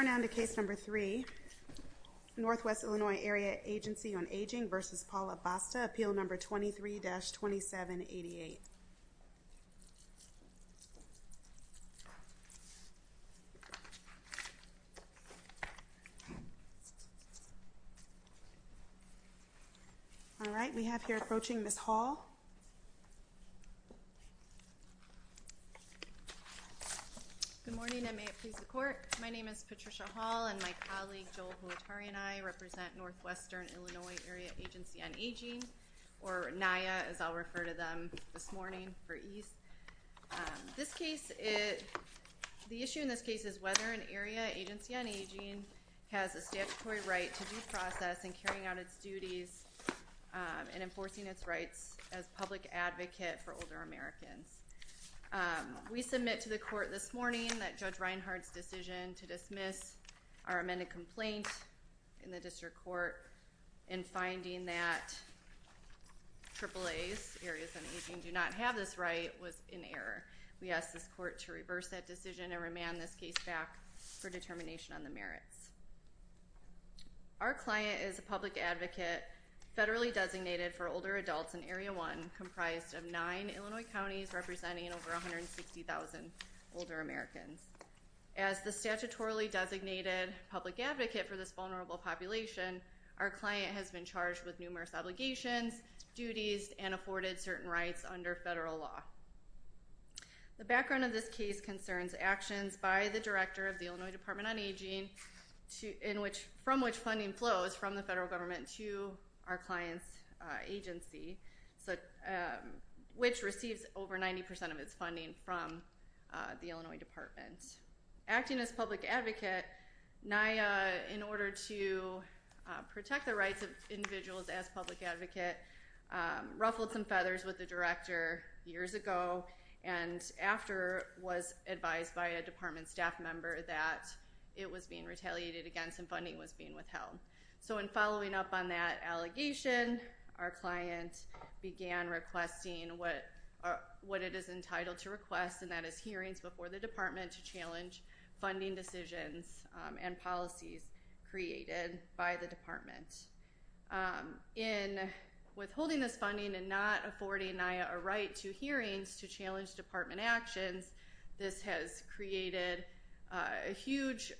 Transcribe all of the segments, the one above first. Appeal No. 23-2788 All right, we have here approaching Ms. Hall Good morning, I may it please the court. My name is Patricia Hall and my colleague Joel Huatari and I represent Northwestern Illinois Area Agency on Aging, or NIA as I'll refer to them this morning for ease. This case, the issue in this case is whether an area agency on aging has a statutory right to due process and carrying out its duties and enforcing its rights as public advocate for older Americans. We submit to the court this morning that Judge Reinhardt's decision to dismiss our amended complaint in the district court in finding that AAA's areas on aging do not have this right was in error. We ask this court to reverse that decision and remand this case back for determination on the merits. Our client is a public advocate, federally designated for older adults in Area 1, comprised of nine Illinois counties representing over 160,000 older Americans. As the statutorily designated public advocate for this vulnerable population, our client has been charged with numerous obligations, duties, and afforded certain rights under federal law. The background of this case concerns actions by the director of the Illinois Department on Aging, from which funding flows from the federal government to our client's agency, which receives over 90% of its funding from the Illinois Department. Acting as public advocate, NIA, in order to protect the rights of individuals as public advocate, ruffled some feathers with the director years ago and after was advised by a department staff member that it was being retaliated against and funding was being withheld. So in following up on that allegation, our client began requesting what it is entitled to request, and that is hearings before the department to challenge funding decisions and policies created by the department. In withholding this funding and not affording NIA a right to hearings to challenge department actions, this has created a huge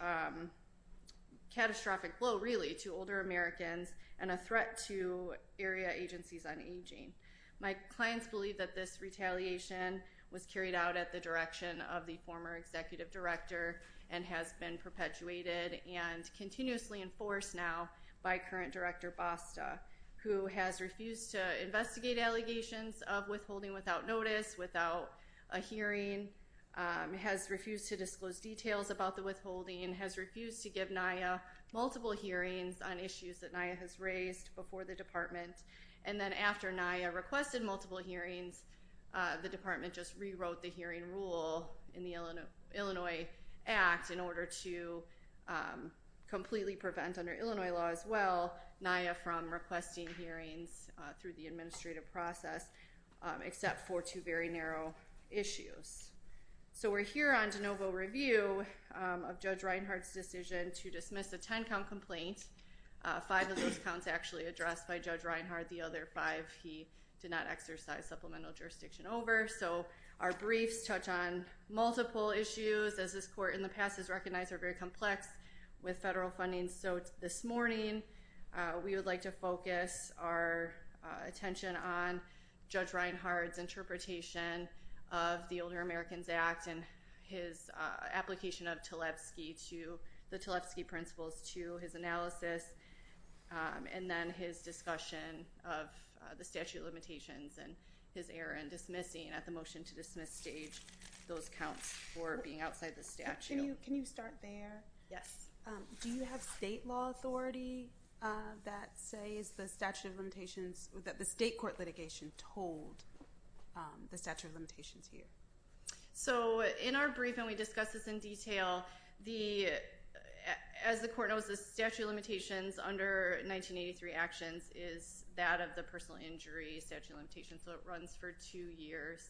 catastrophic blow, really, to older Americans and a threat to area agencies on aging. My clients believe that this retaliation was carried out at the direction of the former executive director and has been perpetuated and continuously enforced now by current director Basta, who has refused to investigate allegations of withholding without notice, without a hearing, has refused to disclose details about the withholding, and has refused to give NIA multiple hearings on issues that NIA has raised before the department. And then after NIA requested multiple hearings, the department just rewrote the hearing rule in the Illinois Act in order to completely prevent under Illinois law as well, NIA from requesting hearings through the administrative process, except for two very narrow issues. So we're here on de novo review of Judge Reinhardt's decision to dismiss a 10-count complaint. Five of those counts actually addressed by Judge Reinhardt. The other five he did not exercise supplemental jurisdiction over. So our briefs touch on multiple issues, as this court in the past has recognized are very complex with federal funding. So this morning, we would like to focus our attention on Judge Reinhardt's interpretation of the Older Americans Act and his application of the Tlebsky principles to his analysis, and then his discussion of the statute of limitations and his error in dismissing at the motion to dismiss stage those counts for being outside the statute. Can you start there? Yes. Do you have state law authority that says the statute of limitations, that the state court litigation told the statute of limitations to you? So in our brief, and we discuss this in detail, as the court knows, the statute of limitations under 1983 actions is that of the personal injury statute of limitations, so it runs for two years.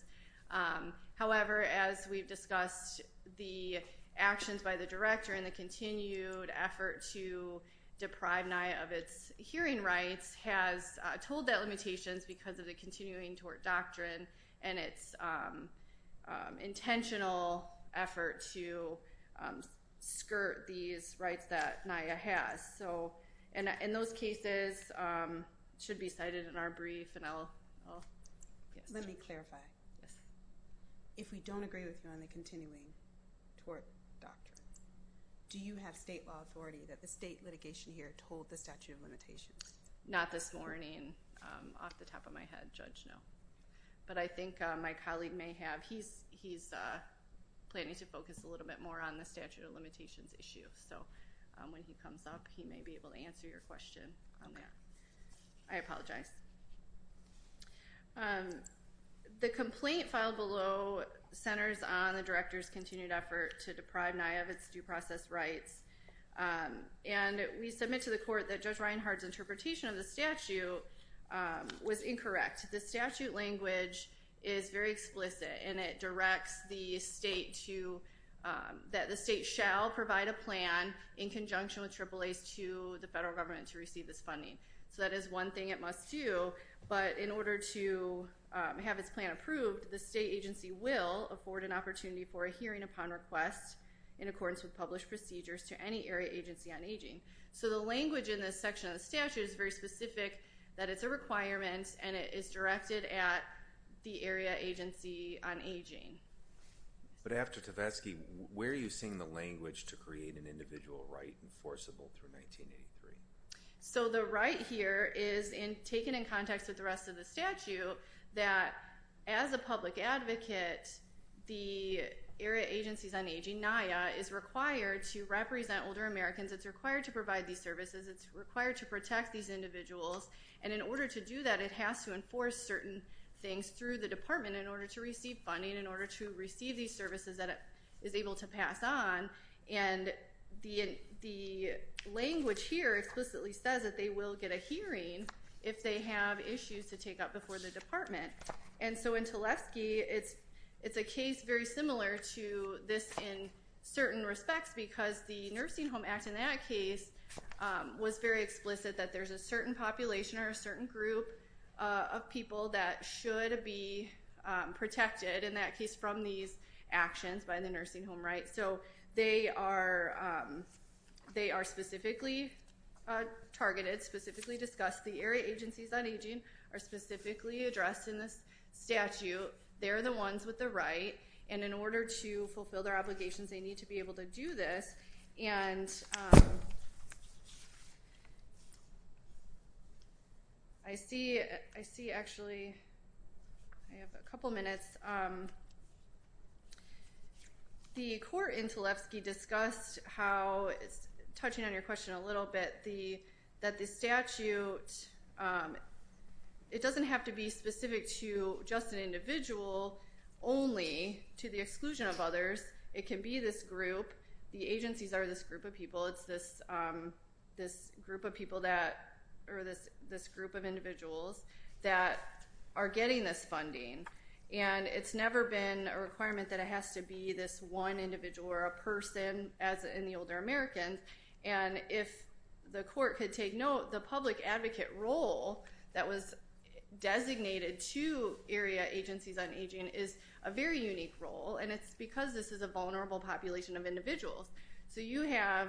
However, as we've discussed, the actions by the director and the continued effort to deprive NIA of its hearing rights has told that limitations because of the continuing tort doctrine and its intentional effort to skirt these rights that NIA has. So in those cases, it should be cited in our brief, and I'll, oh, yes. Let me clarify. Yes. If we don't agree with none of the continuing tort doctrine, do you have state law authority that the state litigation here told the statute of limitations? Not this morning. Off the top of my head, Judge, no. But I think my colleague may have. He's planning to focus a little bit more on the statute of limitations issue, so when he comes up, he may be able to answer your question on that. I apologize. The complaint filed below centers on the director's continued effort to deprive NIA of its due process rights, and we submit to the court that Judge Reinhardt's interpretation of the statute was incorrect. The statute language is very explicit, and it directs the state to, that the state shall provide a plan in conjunction with AAAs to the federal government to receive this funding. So that is one thing it must do, but in order to have its plan approved, the state agency will afford an opportunity for a hearing upon request in accordance with published procedures to any area agency on aging. So the language in this section of the statute is very specific, that it's a requirement, and it is directed at the area agency on aging. But after Tavesky, where are you seeing the language to create an individual right enforceable for 1983? So the right here is taken in context with the rest of the statute, that as a public advocate, the area agencies on aging, NIA, is required to represent older Americans, it's required to provide these services, it's required to protect these individuals, and in order to do that, it has to enforce certain things through the department in order to receive funding, in order to receive these services that it is able to pass on, and the language here explicitly says that they will get a hearing if they have issues to take up before the department. And so in Tavesky, it's a case very similar to this in certain respects because the Nursing Home Act in that case was very explicit that there's a certain population or a certain group of people that should be protected in that case from these actions by the nursing home right, so they are specifically targeted, specifically discussed, the area agencies on aging are specifically addressed in this statute, they're the ones with the right, and in order to fulfill their obligations, they need to be able to do this, and I see actually, I have a couple minutes, the court in Tavesky discussed how, touching on your question a little bit, that the statute, it doesn't have to be specific to just an individual only to the exclusion of others, it can be this group, the agencies are this group of people, it's this group of people that, or this group of individuals that are getting this funding, and it's never been a requirement that it has to be this one individual or a person as in the older Americans, and if the court could take note, the public advocate role that was designated to area agencies on aging is a very unique role, and it's because this is a vulnerable population of individuals, so you have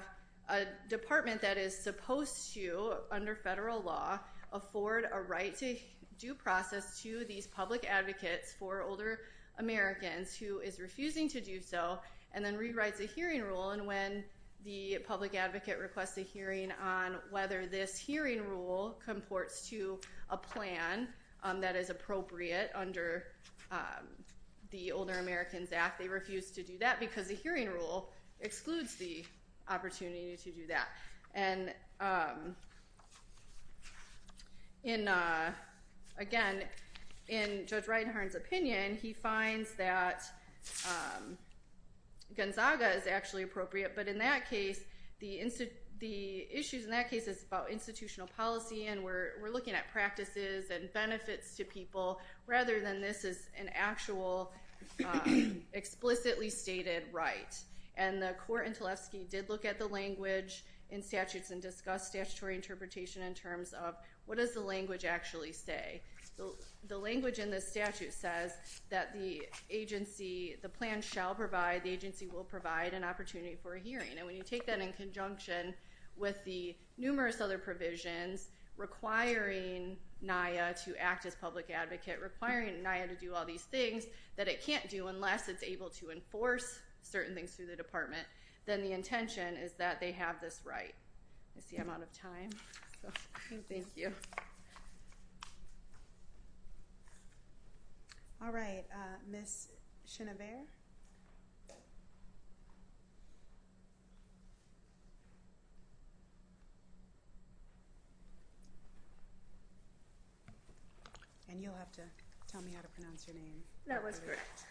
a department that is supposed to, under federal law, afford a right to due process to these public advocates for older Americans who is refusing to do so, and then rewrites a hearing rule, and when the public advocate requests a hearing on whether this hearing rule comports to a plan that is appropriate under the Older Americans Act, they refuse to do that because the hearing rule excludes the opportunity to do that, and again, in Judge Reinhart's opinion, he finds that Gonzaga is actually appropriate, but in that case, the issues in that case is about institutional policy, and we're looking at practices and benefits to people, rather than this is an actual explicitly stated right, and the court in Tlefsky did look at the language in statutes and discussed statutory interpretation in terms of what does the language actually say. The language in this statute says that the agency, the plan shall provide, the agency will provide an opportunity for a hearing, and when you take that in conjunction with the numerous other provisions requiring NIA to act as public advocate, requiring NIA to do all these things that it can't do unless it's able to enforce certain things through the department, then the intention is that they have this right. That's the amount of time. Thank you. All right, Ms. Chenevert. And you'll have to tell me how to pronounce your name. That was correct.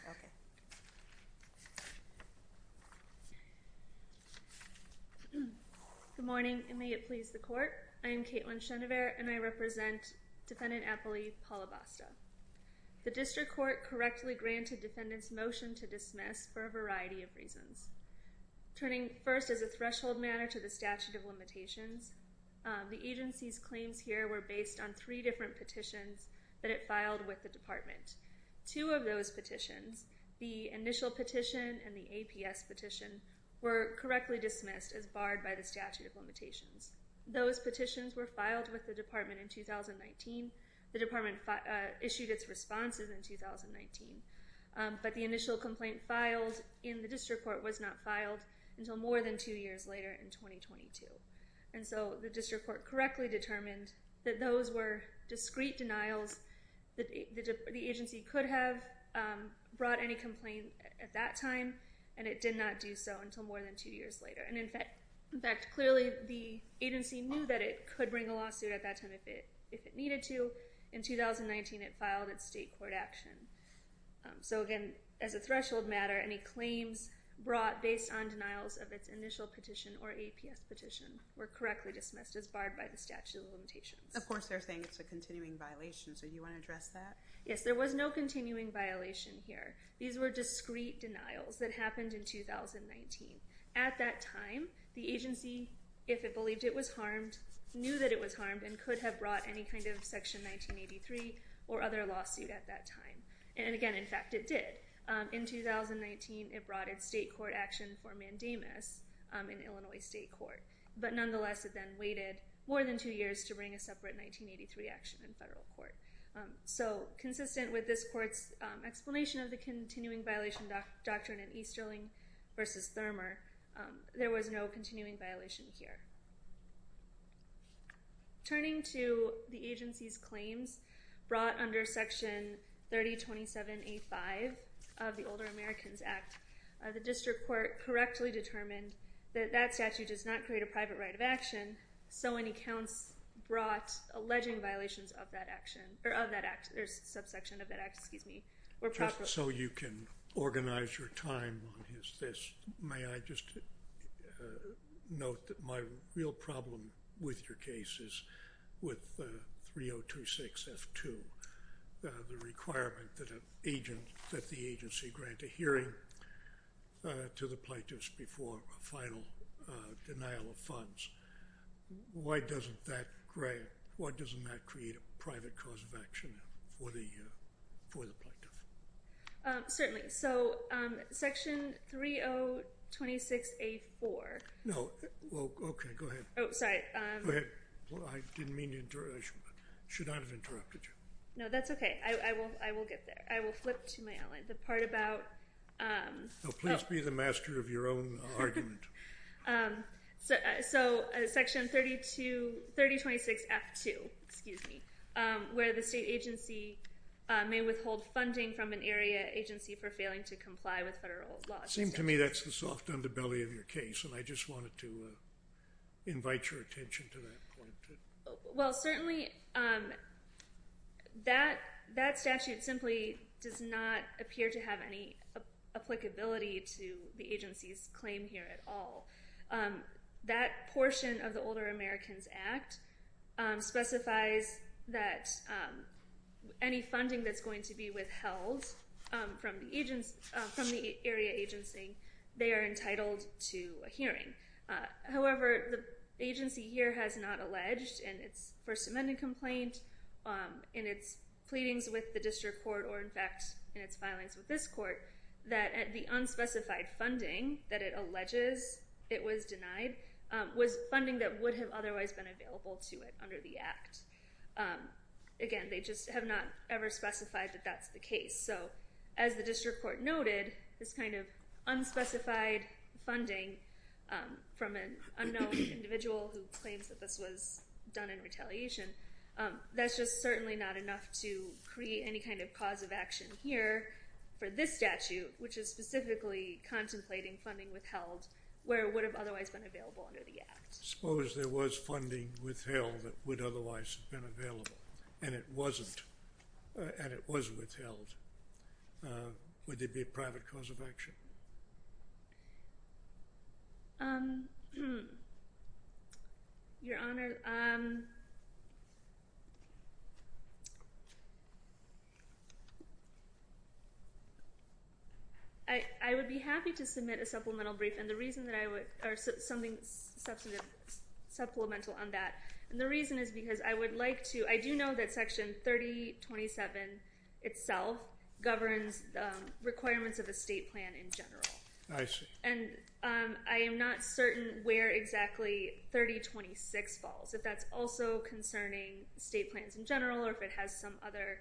Good morning, and may it please the court. I am Kaitlyn Chenevert, and I represent Defendant Apoli Palabasta. The district court correctly granted defendants motion to dismiss for a variety of reasons. Turning first as a threshold matter to the statute of limitations, the agency's claims here were based on three different petitions that it filed with the department. Two of those petitions, the initial petition and the APS petition, were correctly dismissed as barred by the statute of limitations. Those petitions were filed with the department in 2019. The department issued its responses in 2019, but the initial complaint filed in the district court was not filed until more than two years later in 2022, and so the district court correctly determined that those were discrete denials that the agency could have brought any complaint at that time, and it did not do so until more than two years later. And in fact, clearly the agency knew that it could bring a lawsuit at that time if it needed to. In 2019, it filed its state court action. So again, as a threshold matter, any claims brought based on denials of its initial petition or APS petition were correctly dismissed as barred by the statute of limitations. Of course, they're saying it's a continuing violation, so you want to address that? Yes, there was no continuing violation here. These were discrete denials that happened in 2019. At that time, the agency, if it believed it was harmed, knew that it was harmed and could have brought any kind of section 1983 or other lawsuit at that time. And again, in fact, it did. In 2019, it brought its state court action for mandamus in Illinois State Court, but nonetheless, it then waited more than two years to bring a separate 1983 action in federal court. So consistent with this court's explanation of the continuing violation doctrine in Easterling versus Thurmer, there was no continuing violation here. Turning to the agency's claims brought under Section 3027A5 of the Older Americans Act, the district court correctly determined that that statute does not create a private right of action, so any counts brought alleging violations of that action, or of that act, or subsection of that act, excuse me, were proper. Just so you can organize your time on this, may I just note that my real problem with your case is with 3026F2, the requirement that the agency grant a hearing to the plaintiffs before final denial of funds. Why doesn't that create a private cause of action for the plaintiff? Certainly. So Section 3026A4. No, well, okay, go ahead. Oh, sorry. Go ahead. Well, I didn't mean to interrupt. I should not have interrupted you. No, that's okay. I will get there. I will flip to my outline. The part about... No, please be the master of your own argument. So Section 3026F2, excuse me, where the state agency may withhold funding from an area agency for failing to comply with federal laws. It seems to me that's the soft underbelly of your case, and I just wanted to invite your attention to that. Well, certainly, that statute simply does not appear to have any applicability to the agency's claim here at all. That portion of the Older Americans Act specifies that any funding that's going to be withheld from the area agency, they are entitled to a hearing. However, the agency here has not alleged in its First Amendment complaint, in its pleadings with the district court, or in fact, in its filings with this court, that the unspecified funding that it alleges it was denied was funding that would have otherwise been available to it under the Act. Again, they just have not ever specified that that's the case. So as the district court noted, this kind of unspecified funding from an unknown individual who claims that this was done in retaliation, that's just certainly not enough to create any kind of cause of action here for this statute, which is specifically contemplating funding withheld where it would have otherwise been available under the Act. Suppose there was funding withheld that would otherwise have been available, and it wasn't, and it was withheld. Would there be a private cause of action? Your Honor, I would be happy to submit a supplemental brief, and the reason that I would, or something substantive, supplemental on that, and the reason is because I would like to, I do that Section 3027 itself governs requirements of a state plan in general. I see. And I am not certain where exactly 3026 falls, if that's also concerning state plans in general, or if it has some other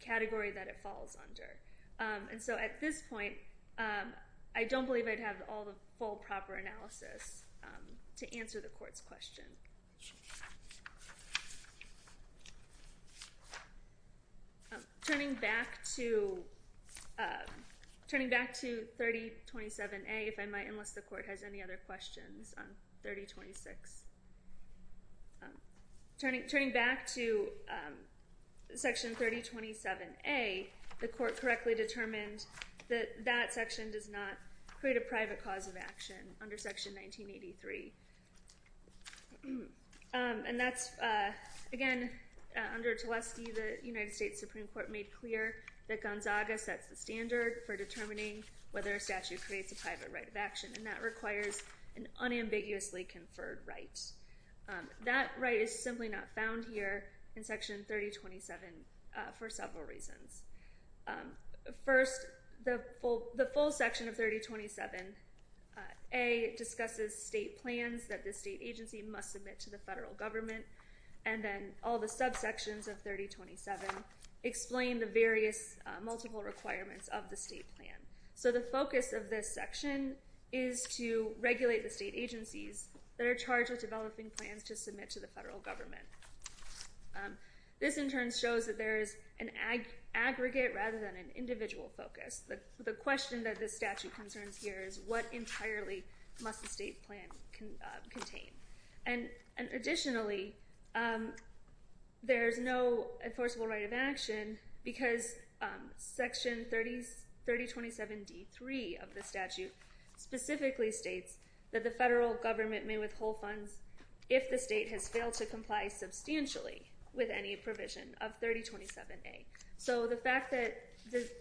category that it falls under. And so at this point, I don't believe I'd have all the full proper analysis to answer the Court's question. Turning back to 3027A, if I might, unless the Court has any other questions on 3026. Turning back to Section 3027A, the Court correctly determined that that section does not create a private right of action under Section 1983. And that's, again, under Tlusty, the United States Supreme Court made clear that Gonzaga sets the standard for determining whether a statute creates a private right of action, and that requires an unambiguously conferred right. That right is simply not found here in Section 3027 for several reasons. First, the full section of 3027 A discusses state plans that the state agency must submit to the federal government, and then all the subsections of 3027 explain the various multiple requirements of the state plan. So the focus of this section is to regulate the state agencies that are charged with developing plans to submit to the federal government. This in turn shows that there is an aggregate rather than an individual focus. The question that this statute concerns here is what entirely must the state plan contain? And additionally, there's no enforceable right of action because Section 3027 D.3 of the statute specifically states that the federal government may withhold funds if the state has failed to comply substantially with any provision of 3027 A. So the fact that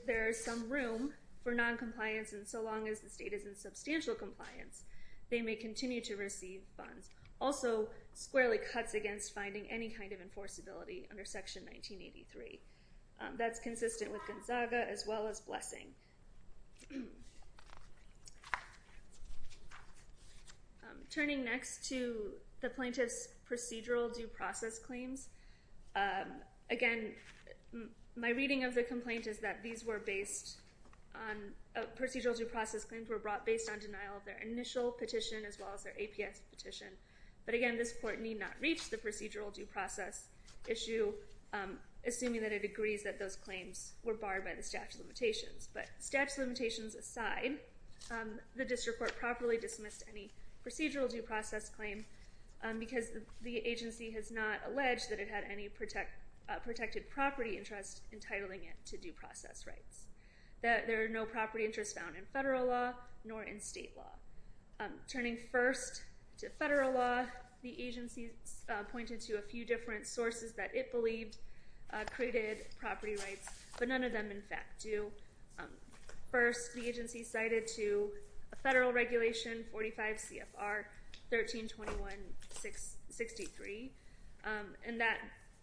there's some room for noncompliance and so long as the state is in substantial compliance, they may continue to receive funds. Also, squarely cuts against finding any kind of enforceability under Section 1983. That's consistent with Gonzaga as well as discussing. Turning next to the plaintiff's procedural due process claims. Again, my reading of the complaint is that procedural due process claims were brought based on denial of their initial petition as well as their APS petition. But again, this court need not reach the procedural due process issue assuming that it agrees that those claims were barred by the statute of limitations. But statute of limitations aside, the district court properly dismissed any procedural due process claim because the agency has not alleged that it had any protected property interest entitling it to due process rights. That there are no property interests found in federal law nor in state law. Turning first to federal law, the agency pointed to a few different sources that it believed created property rights, but none of them in fact do. First, the agency cited to a federal regulation 45 CFR 1321-63. And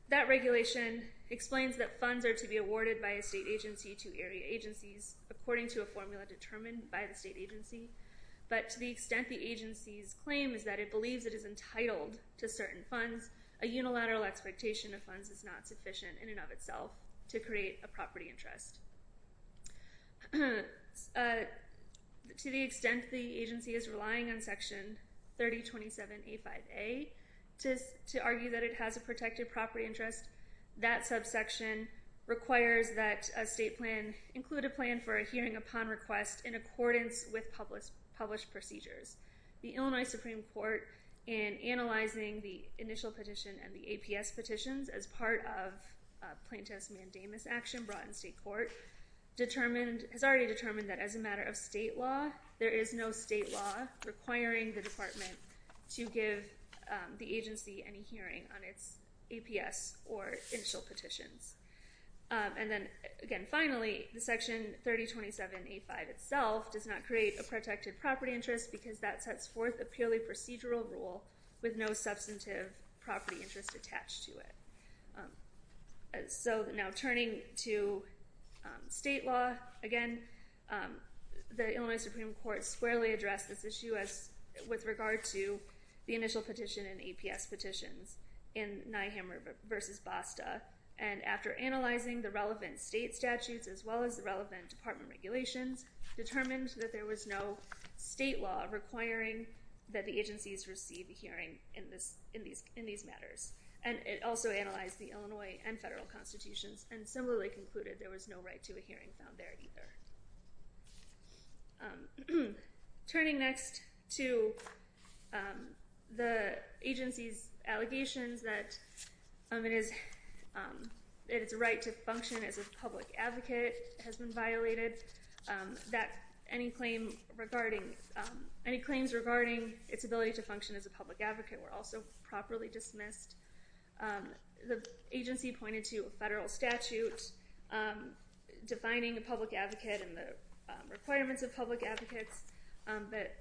that regulation explains that funds are to be awarded by a state agency to area agencies according to a formula determined by the state agency. But to the extent the agency's claim is that it believes it is entitled to certain funds, a unilateral expectation of funds is not sufficient in and of itself to create a property interest. To the extent the agency is relying on section 3027A5A to argue that it has a protected property interest, that subsection requires that a state plan include a plan for a hearing upon request in accordance with published procedures. The Illinois Supreme Court in analyzing the initial petition and the APS petitions as part of plaintiff's mandamus action brought in state court has already determined that as a matter of state law, there is no state law requiring the department to give the agency any hearing on its APS or initial petitions. And then again, finally, the section 3027A5 itself does not create a protected property interest because that sets forth a purely procedural rule with no substantive property interest attached to it. So now turning to state law, again, the Illinois Supreme Court squarely addressed this issue with regard to the initial petition and APS petitions in Nyhammer v. Basta. And after analyzing the relevant state statutes as well as the relevant department regulations, determined that there was no state law requiring that the agencies receive a hearing in these matters. And it also analyzed the Illinois and federal constitutions and similarly concluded there was no right to a hearing found there either. Turning next to the agency's allegations that it is, that its right to function as a public advocate has been violated, that any claim regarding, any claims regarding its ability to function as a public advocate were also properly dismissed. The agency pointed to a federal statute defining a public advocate and the requirements of public advocates that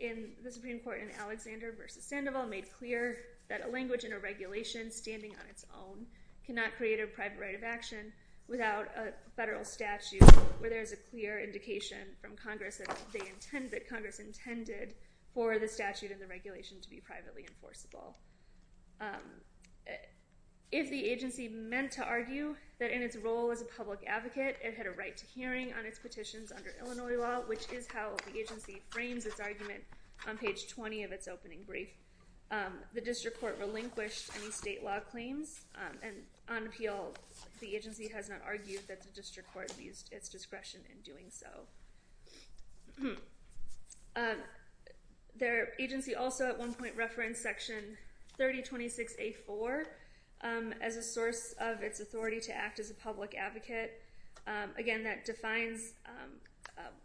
in the Supreme Court in Alexander v. Sandoval made clear that a language and a regulation standing on its own cannot create a private right of action without a federal statute where there is a clear indication from Congress that they intend, that Congress intended for the statute and the regulation to be privately enforceable. If the agency meant to argue that in its role as a public advocate it had a right to hearing on its petitions under Illinois law, which is how the agency frames its argument on page 20 of its opening brief, the district court relinquished any state law claims and on appeal the agency has not argued that the district court used its discretion in doing so. Their agency also at one point referenced section 3026A4 as a source of its authority to act as a public advocate. Again, that defines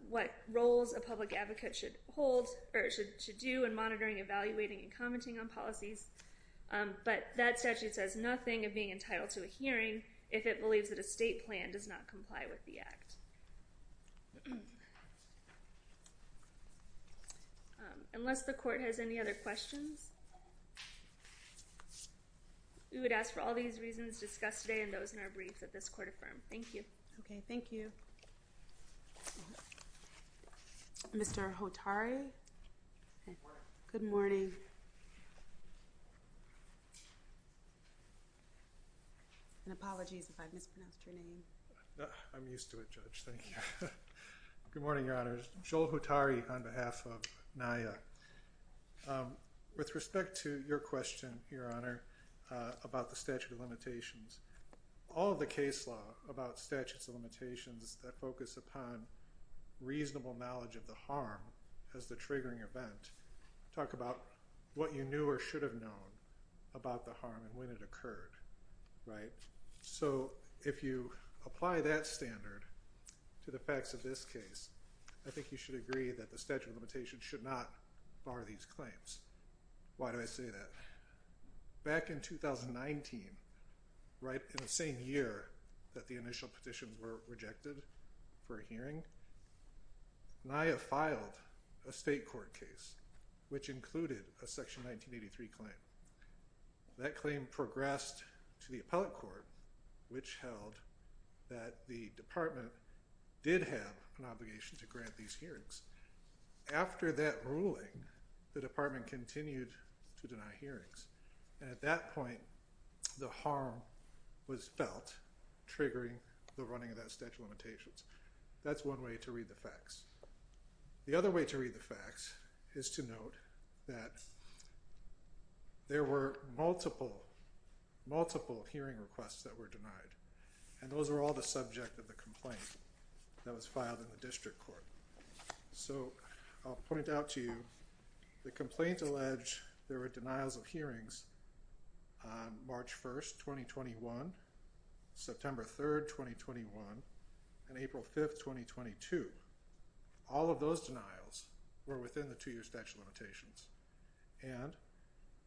what roles a public advocate should hold, or should do in monitoring, evaluating, and commenting on policies, but that statute says nothing of being entitled to a hearing if it believes that a state plan does not comply with the act. Unless the court has any other questions, we would ask for all these reasons discussed today and those in our brief that this court affirmed. Thank you. Okay, thank you. Okay. Mr. Hotari? Good morning. And apologies if I mispronounced your name. I'm used to it, Judge. Thank you. Good morning, Your Honor. Joel Hotari on behalf of NIA. With respect to your question, Your Honor, about the statute of limitations, all the case law about statutes of limitations that focus upon reasonable knowledge of the harm as the triggering event, talk about what you knew or should have known about the harm and when it occurred, right? So if you apply that standard to the facts of this case, I think you should agree that the statute of limitations should not bar these claims. Why do I say that? Back in 2019, right in the same year that the initial petition were rejected for a hearing, NIA filed a state court case, which included a section 1983 claim. That claim progressed to the appellate court, which held that the department did have an obligation to grant these hearings. After that ruling, the department continued to deny hearings, and at that point, the harm was felt, triggering the running of that statute of limitations. That's one way to read the facts. The other way to read the facts is to note that there were multiple, multiple hearing requests that were denied, and those were all the subject of the complaint that was filed in the district court. So I'll point out to you, the complaint alleged there were denials of hearings on March 1st, 2021, September 3rd, 2021, and April 5th, 2022. All of those denials were within the two-year statute of limitations, and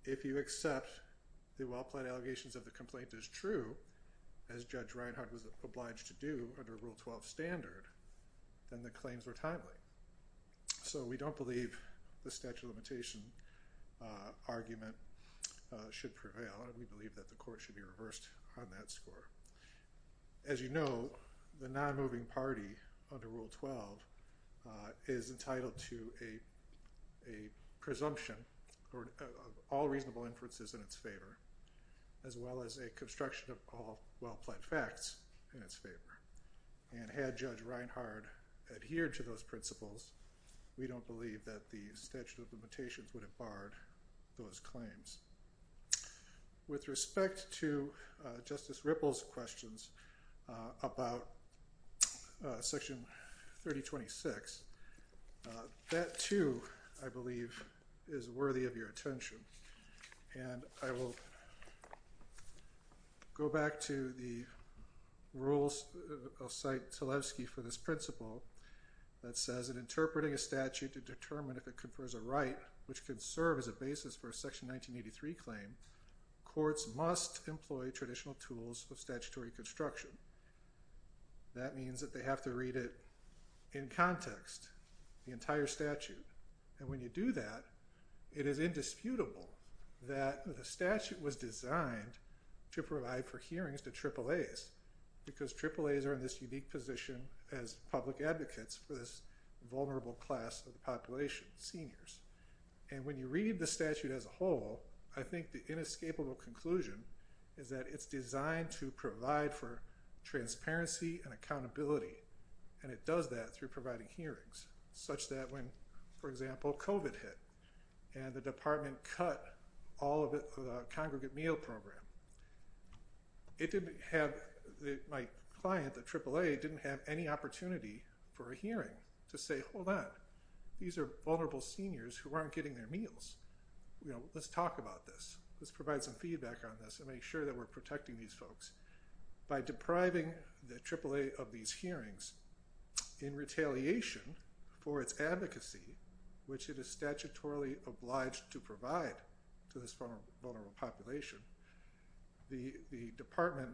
if you accept the allegations of the complaint is true, as Judge Reinhart was obliged to do under Rule 12 standard, then the claims were timely. So we don't believe the statute of limitation argument should prevail, and we believe that the court should be reversed on that score. As you know, the non-moving party under Rule 12 is entitled to a presumption of all reasonable inferences in its favor. As well as a construction of all well-planned facts in its favor, and had Judge Reinhart adhered to those principles, we don't believe that the statute of limitations would have barred those claims. With respect to Justice Ripple's questions about Section 3026, that too, I believe, is worthy of your attention, and I will go back to the rules. I'll cite Tylewski for this principle that says, in interpreting a statute to determine if it confers a right which can serve as a basis for a Section 1983 claim, courts must employ traditional tools of statutory construction. That means that they have to read it in context, the entire statute, and when you do that, it is indisputable that the statute was designed to provide for hearings to AAAs, because AAAs are in this unique position as public advocates for this vulnerable class of the population, seniors. And when you read the statute as a whole, I think the inescapable conclusion is that it's designed to provide for transparency and accountability, and it does that through providing hearings, such that when, for example, COVID hit and the department cut all of the congregate meal program, my client, the AAA, didn't have any opportunity for a hearing to say, hold on, these are vulnerable seniors who aren't getting their meals. Let's talk about this. Let's provide some feedback on this and make sure that we're protecting these folks. By depriving the AAA of these hearings in retaliation for its advocacy, which it is statutorily obliged to provide to this vulnerable population, the department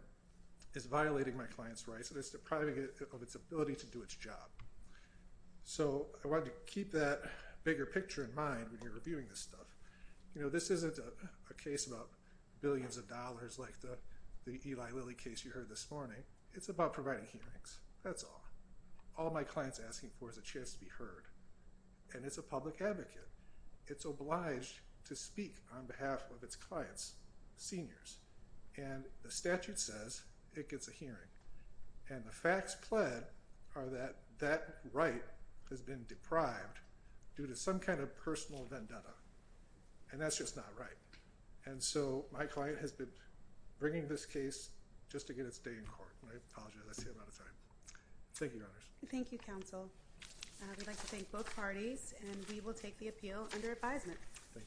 is violating my client's rights, and it's depriving it of its ability to do its job. So I wanted to keep that bigger picture in mind when you're reviewing this stuff. This isn't a case about billions of dollars like the Eli Lilly case you heard this morning. It's about providing hearings. That's all. All my client's asking for is a chance to be heard. And it's a public advocate. It's obliged to speak on behalf of its clients, seniors. And the statute says it gets a hearing. And the facts pled are that that right has been deprived due to some kind of personal vendetta. And that's just not right. And so my client has been bringing this case just to get its day in court. I apologize. I see I'm out of time. Thank you. Thank you, counsel. We'd like to thank both parties, and we will take the appeal under advisement. Thank you.